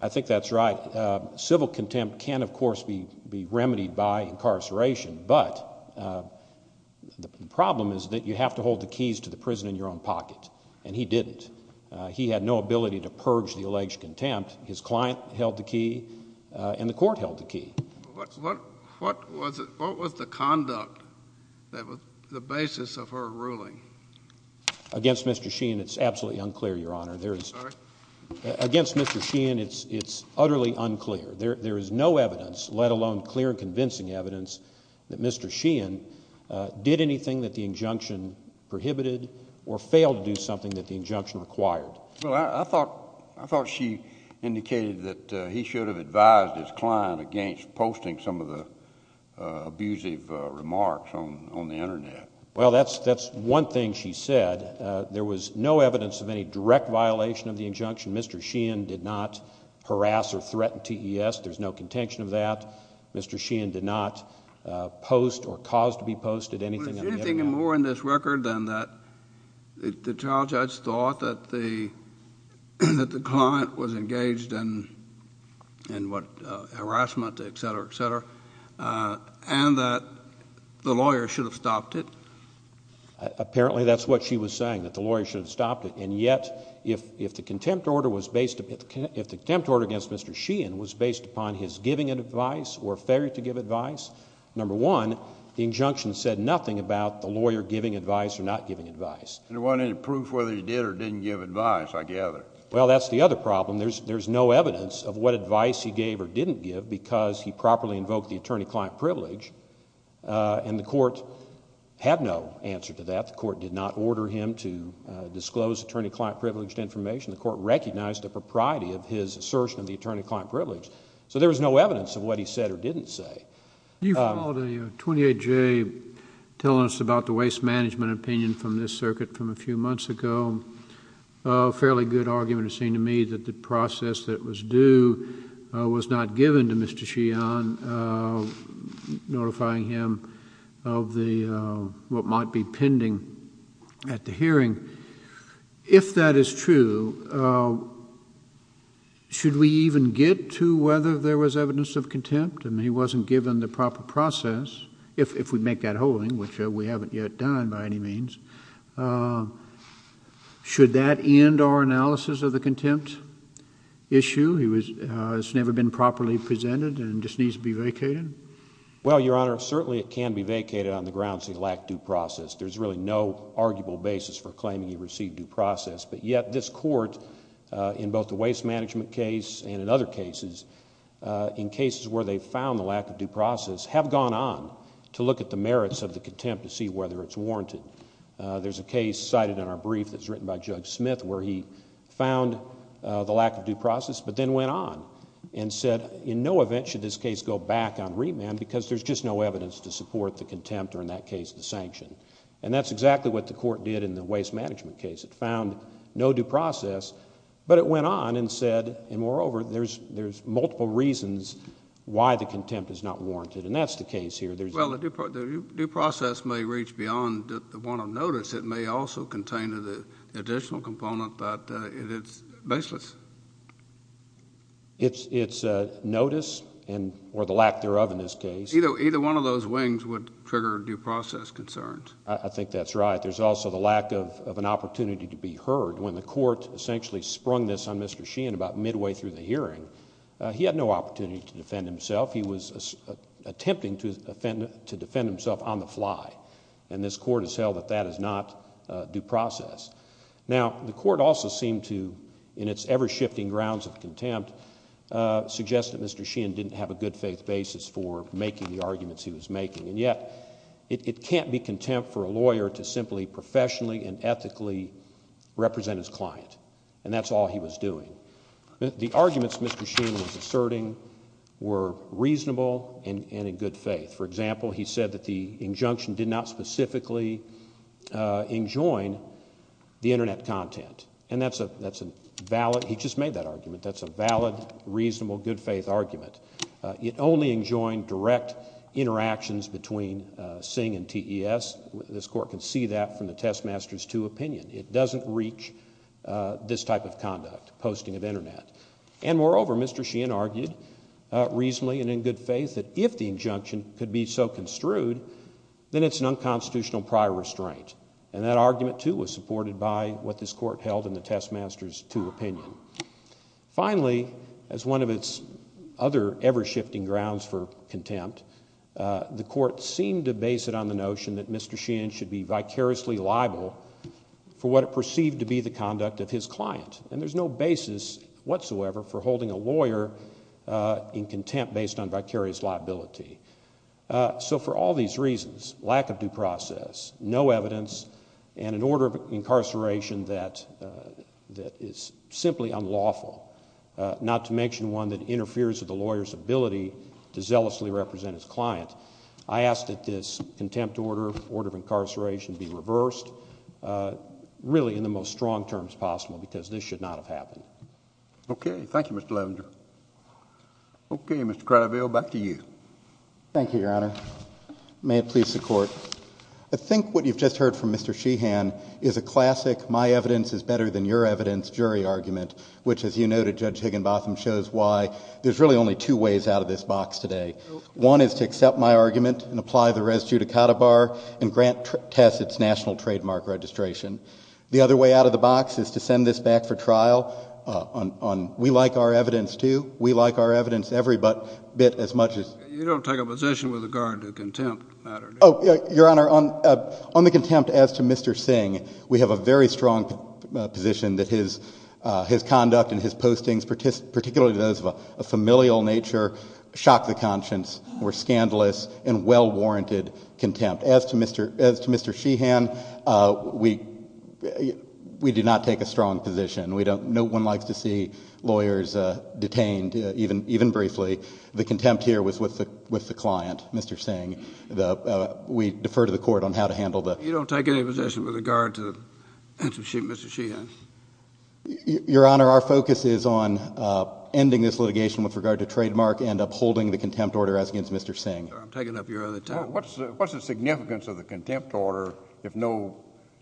I think that's right. Civil contempt can, of course, be remedied by incarceration, but the problem is that you have to hold the keys to the prison in your own pocket, and he didn't. He had no ability to purge the alleged contempt. His client held the key, and the court held the key. What was the conduct that was the basis of her ruling? Against Mr. Sheehan, it's absolutely unclear, Your Honor. Sorry? Against Mr. Sheehan, it's utterly unclear. There is no evidence, let alone clear and convincing evidence, that Mr. Sheehan did anything that the injunction prohibited or failed to do something that the injunction required. Well, I thought she indicated that he should have advised his client against posting some of the abusive remarks on the Internet. Well, that's one thing she said. There was no evidence of any direct violation of the injunction. Mr. Sheehan did not harass or threaten TES. There's no contention of that. Mr. Sheehan did not post or cause to be posted anything on the Internet. Was there anything more in this record than that the trial judge thought that the client was engaged in harassment, et cetera, et cetera, and that the lawyer should have stopped it? Apparently, that's what she was saying, that the lawyer should have stopped it. And yet, if the contempt order against Mr. Sheehan was based upon his giving advice or failure to give advice, number one, the injunction said nothing about the lawyer giving advice or not giving advice. There wasn't any proof whether he did or didn't give advice, I gather. Well, that's the other problem. There's no evidence of what advice he gave or didn't give because he properly invoked the attorney-client privilege, and the court had no answer to that. The court did not order him to disclose attorney-client privileged information. The court recognized the propriety of his assertion of the attorney-client privilege. So there was no evidence of what he said or didn't say. You followed a 28-J telling us about the waste management opinion from this circuit from a few months ago. A fairly good argument, it seemed to me, that the process that was due was not given to Mr. Sheehan, notifying him of what might be pending at the hearing. If that is true, should we even get to whether there was evidence of contempt? I mean, he wasn't given the proper process, if we make that whole thing, which we haven't yet done by any means. Should that end our analysis of the contempt issue? It's never been properly presented and just needs to be vacated? Well, Your Honor, certainly it can be vacated on the grounds he lacked due process. There's really no arguable basis for claiming he received due process, but yet this court, in both the waste management case and in other cases, in cases where they found the lack of due process, have gone on to look at the merits of the contempt to see whether it's warranted. There's a case cited in our brief that's written by Judge Smith where he found the lack of due process, but then went on and said in no event should this case go back on remand because there's just no evidence to support the contempt, or in that case, the sanction. And that's exactly what the court did in the waste management case. It found no due process, but it went on and said, and moreover, there's multiple reasons why the contempt is not warranted, and that's the case here. Well, the due process may reach beyond the warrant of notice. It may also contain an additional component that is baseless. It's notice or the lack thereof in this case. Either one of those wings would trigger due process concerns. I think that's right. There's also the lack of an opportunity to be heard. When the court essentially sprung this on Mr. Sheehan about midway through the hearing, he had no opportunity to defend himself. He was attempting to defend himself on the fly, and this court has held that that is not due process. Now, the court also seemed to, in its ever-shifting grounds of contempt, suggest that Mr. Sheehan didn't have a good faith basis for making the arguments he was making, and yet it can't be contempt for a lawyer to simply professionally and ethically represent his client, and that's all he was doing. The arguments Mr. Sheehan was asserting were reasonable and in good faith. For example, he said that the injunction did not specifically enjoin the Internet content, and that's a valid, he just made that argument, that's a valid, reasonable, good faith argument. It only enjoined direct interactions between SING and TES. This court can see that from the Testmasters II opinion. It doesn't reach this type of conduct, posting of Internet. And moreover, Mr. Sheehan argued reasonably and in good faith that if the injunction could be so construed, then it's an unconstitutional prior restraint, and that argument, too, was supported by what this court held in the Testmasters II opinion. Finally, as one of its other ever-shifting grounds for contempt, the court seemed to base it on the notion that Mr. Sheehan should be vicariously liable for what it perceived to be the conduct of his client, and there's no basis whatsoever for holding a lawyer in contempt based on vicarious liability. For all these reasons, lack of due process, no evidence, and an order of incarceration that is simply unlawful, not to mention one that interferes with the lawyer's ability to zealously represent his client, I ask that this contempt order, order of incarceration, be reversed, really in the most strong terms possible, because this should not have happened. Okay. Thank you, Mr. Levinger. Okay, Mr. Craddoville, back to you. Thank you, Your Honor. May it please the Court. I think what you've just heard from Mr. Sheehan is a classic my-evidence-is-better-than-your-evidence jury argument, which, as you noted, Judge Higginbotham, shows why there's really only two ways out of this box today. One is to accept my argument and apply the res judicata bar and grant test its national trademark registration. The other way out of the box is to send this back for trial on we-like-our-evidence-too, we-like-our-evidence-every-but-bit-as-much-as. You don't take a position with regard to contempt matter, do you? Oh, Your Honor, on the contempt as to Mr. Singh, we have a very strong position that his conduct and his postings, particularly those of a familial nature, shock the conscience, were scandalous and well-warranted contempt. As to Mr. Sheehan, we do not take a strong position. No one likes to see lawyers detained, even briefly. The contempt here was with the client, Mr. Singh. We defer to the Court on how to handle the... You don't take any position with regard to Mr. Sheehan? Your Honor, our focus is on ending this litigation with regard to trademark and upholding the contempt order as against Mr. Singh. I'm taking up your other time. What's the significance of the contempt order if no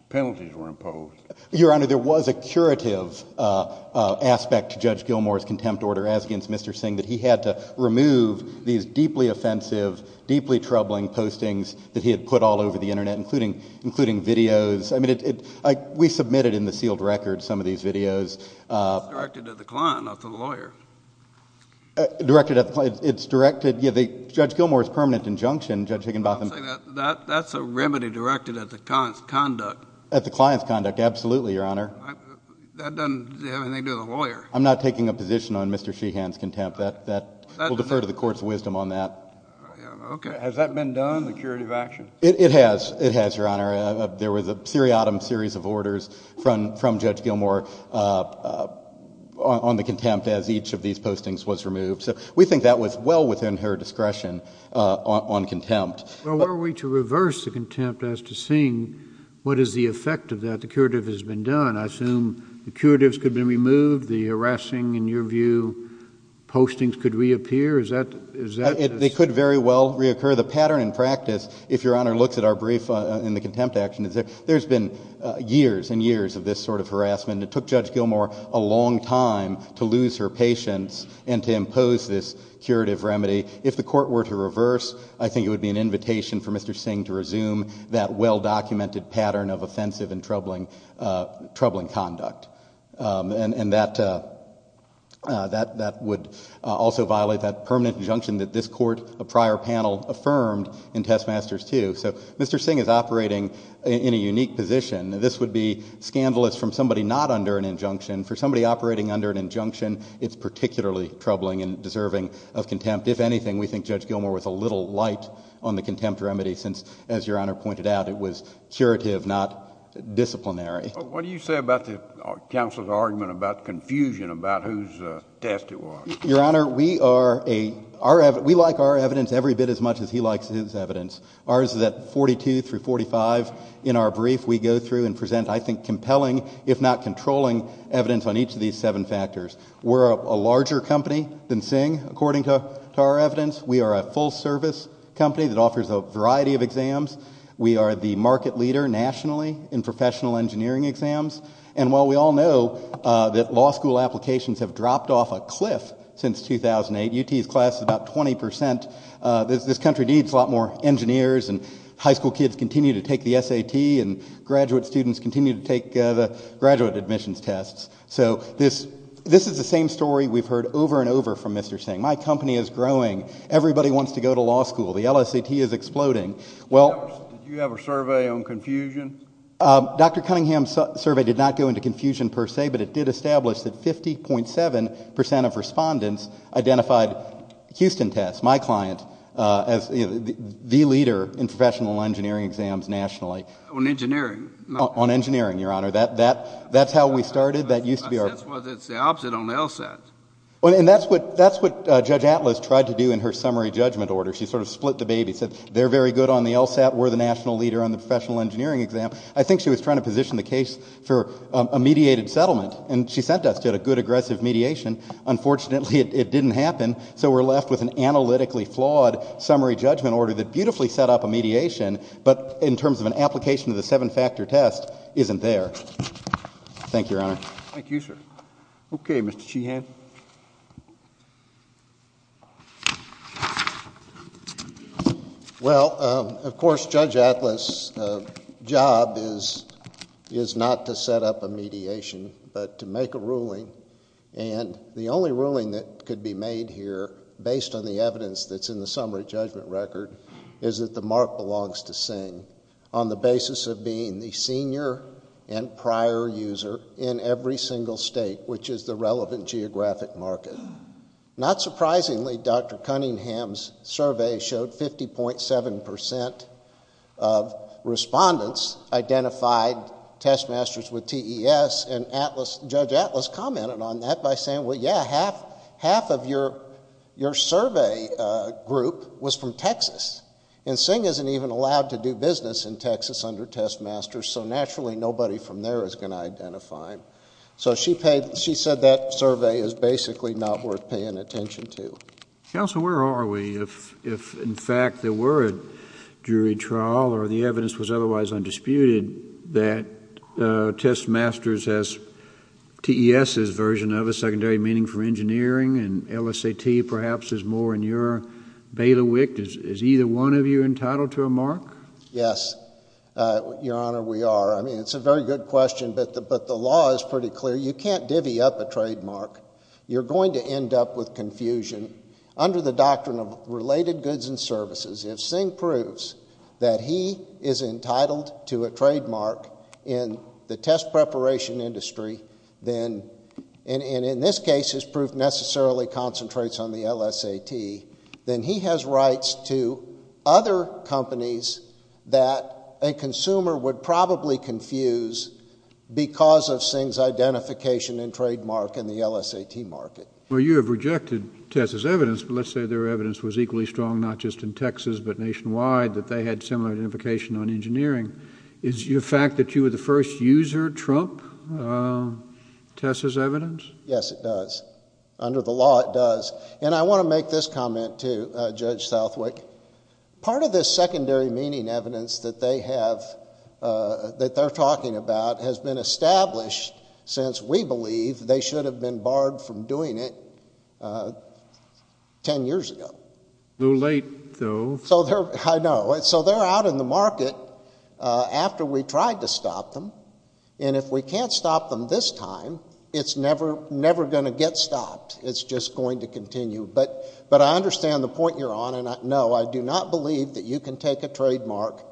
penalties were imposed? Your Honor, there was a curative aspect to Judge Gilmour's contempt order as against Mr. Singh that he had to remove these deeply offensive, deeply troubling postings that he had put all over the Internet, including videos. We submitted in the sealed record some of these videos. It's directed at the client, not to the lawyer. Directed at the client. It's directed... Judge Gilmour's permanent injunction, Judge Higginbotham... That's a remedy directed at the client's conduct. At the client's conduct, absolutely, Your Honor. That doesn't have anything to do with the lawyer. I'm not taking a position on Mr. Sheehan's contempt. We'll defer to the Court's wisdom on that. Has that been done, the curative action? It has, Your Honor. There was a seriatim series of orders from Judge Gilmour on the contempt as each of these postings was removed. So we think that was well within her discretion on contempt. Well, were we to reverse the contempt as to Singh, what is the effect of that? The curative has been done. I assume the curatives could be removed. The harassing, in your view, postings could reappear. Is that... They could very well reoccur. The pattern in practice, if Your Honor looks at our brief in the contempt action, there's been years and years of this sort of harassment. It took Judge Gilmour a long time to lose her patience and to impose this curative remedy. If the Court were to reverse, I think it would be an invitation for Mr. Singh to resume that well-documented pattern of offensive and troubling conduct. And that would also violate that permanent injunction that this Court, a prior panel, affirmed in Testmasters II. So Mr. Singh is operating in a unique position. This would be scandalous from somebody not under an injunction. For somebody operating under an injunction, it's particularly troubling and deserving of contempt. If anything, we think Judge Gilmour was a little light on the contempt remedy since, as Your Honor pointed out, it was curative, not disciplinary. What do you say about the counsel's argument about confusion about whose test it was? Your Honor, we like our evidence every bit as much as he likes his evidence. Ours is at 42 through 45. In our brief, we go through and present, I think, compelling, if not controlling evidence on each of these seven factors. We're a larger company than Singh, according to our evidence. We are a full-service company that offers a variety of exams. We are the market leader nationally in professional engineering exams. And while we all know that law school applications have dropped off a cliff since 2008, UT's class is about 20 percent. This country needs a lot more engineers, and high school kids continue to take the SAT, and graduate students continue to take the graduate admissions tests. So this is the same story we've heard over and over from Mr. Singh. My company is growing. Everybody wants to go to law school. The LSAT is exploding. Did you have a survey on confusion? Dr. Cunningham's survey did not go into confusion per se, but it did establish that 50.7 percent of respondents identified Houston Tests, my client, as the leader in professional engineering exams nationally. On engineering? On engineering, Your Honor. That's how we started. That's the opposite on the LSAT. And that's what Judge Atlas tried to do in her summary judgment order. She sort of split the babysit. They're very good on the LSAT. We're the national leader on the professional engineering exam. I think she was trying to position the case for a mediated settlement, and she sent us to a good aggressive mediation. Unfortunately, it didn't happen, so we're left with an analytically flawed summary judgment order that beautifully set up a mediation, but in terms of an application of the seven-factor test, isn't there. Thank you, Your Honor. Thank you, sir. Okay, Mr. Sheehan. Well, of course, Judge Atlas' job is not to set up a mediation but to make a ruling, and the only ruling that could be made here, based on the evidence that's in the summary judgment record, is that the mark belongs to Singh on the basis of being the senior and prior user in every single state, which is the relevant geographic market. Not surprisingly, Dr. Cunningham's survey showed 50.7 percent of respondents identified test masters with TES, and Judge Atlas commented on that by saying, well, yeah, half of your survey group was from Texas, and Singh isn't even allowed to do business in Texas under test masters, so naturally nobody from there is going to identify him. So she said that survey is basically not worth paying attention to. Counsel, where are we if, in fact, there were a jury trial or the evidence was otherwise undisputed that test masters has TES's version of it, secondary meaning for engineering, and LSAT perhaps is more in your bailiwick? Is either one of you entitled to a mark? Yes, Your Honor, we are. I mean, it's a very good question, but the law is pretty clear. You can't divvy up a trademark. You're going to end up with confusion. Under the doctrine of related goods and services, if Singh proves that he is entitled to a trademark in the test preparation industry, and in this case his proof necessarily concentrates on the LSAT, then he has rights to other companies that a consumer would probably confuse because of Singh's identification and trademark in the LSAT market. Well, you have rejected TES's evidence, but let's say their evidence was equally strong not just in Texas but nationwide, that they had similar identification on engineering. Is your fact that you were the first user trump TES's evidence? Yes, it does. Under the law, it does. And I want to make this comment to Judge Southwick. Part of this secondary meaning evidence that they have, that they're talking about, has been established since we believe they should have been barred from doing it ten years ago. A little late, though. I know. So they're out in the market after we tried to stop them, and if we can't stop them this time, it's never going to get stopped. It's just going to continue. But I understand the point you're on, and, no, I do not believe that you can take a trademark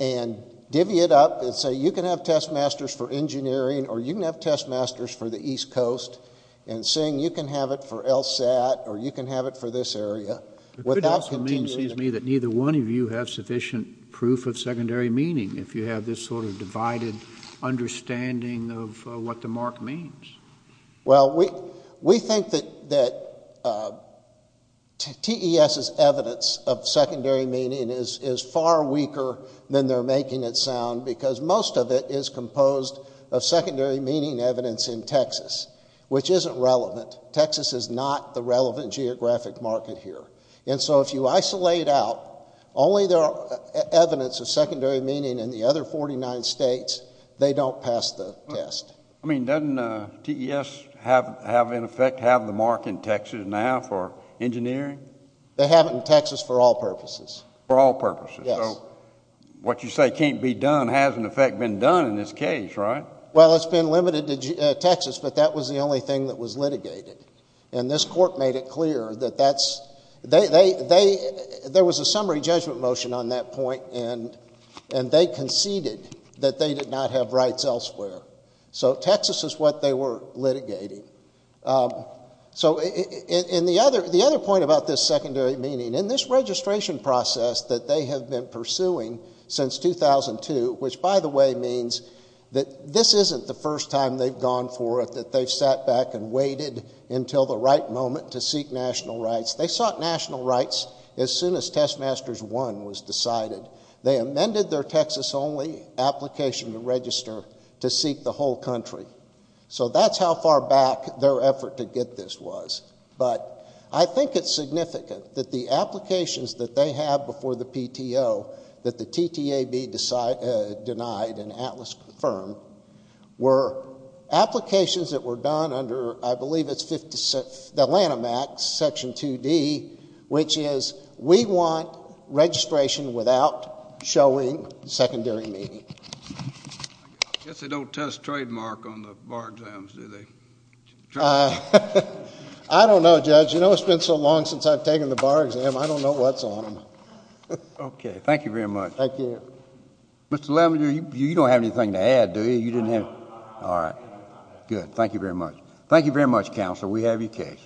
and divvy it up and say you can have TES Masters for engineering or you can have TES Masters for the East Coast, and, Singh, you can have it for LSAT or you can have it for this area. It could also mean, it seems to me, that neither one of you have sufficient proof of secondary meaning if you have this sort of divided understanding of what the mark means. Well, we think that TES's evidence of secondary meaning is far weaker than they're making it sound because most of it is composed of secondary meaning evidence in Texas, which isn't relevant. Texas is not the relevant geographic market here. And so if you isolate out only the evidence of secondary meaning in the other 49 states, they don't pass the test. I mean, doesn't TES have, in effect, have the mark in Texas now for engineering? They have it in Texas for all purposes. For all purposes. Yes. So what you say can't be done has, in effect, been done in this case, right? Well, it's been limited to Texas, but that was the only thing that was litigated. And this court made it clear that that's, there was a summary judgment motion on that point, and they conceded that they did not have rights elsewhere. So Texas is what they were litigating. So the other point about this secondary meaning, in this registration process that they have been pursuing since 2002, which, by the way, means that this isn't the first time they've gone for it, that they've sat back and waited until the right moment to seek national rights. They sought national rights as soon as Test Masters I was decided. They amended their Texas-only application to register to seek the whole country. So that's how far back their effort to get this was. But I think it's significant that the applications that they have before the PTO that the TTAB denied and ATLAS confirmed were applications that were done under, I believe it's Atlanta Max, Section 2D, which is we want registration without showing secondary meaning. I guess they don't test trademark on the bar exams, do they? I don't know, Judge. You know, it's been so long since I've taken the bar exam, I don't know what's on them. Okay. Thank you very much. Thank you. Mr. Lavender, you don't have anything to add, do you? No. All right. Good. Thank you very much. Thank you very much, Counselor. We have your case. Thank you.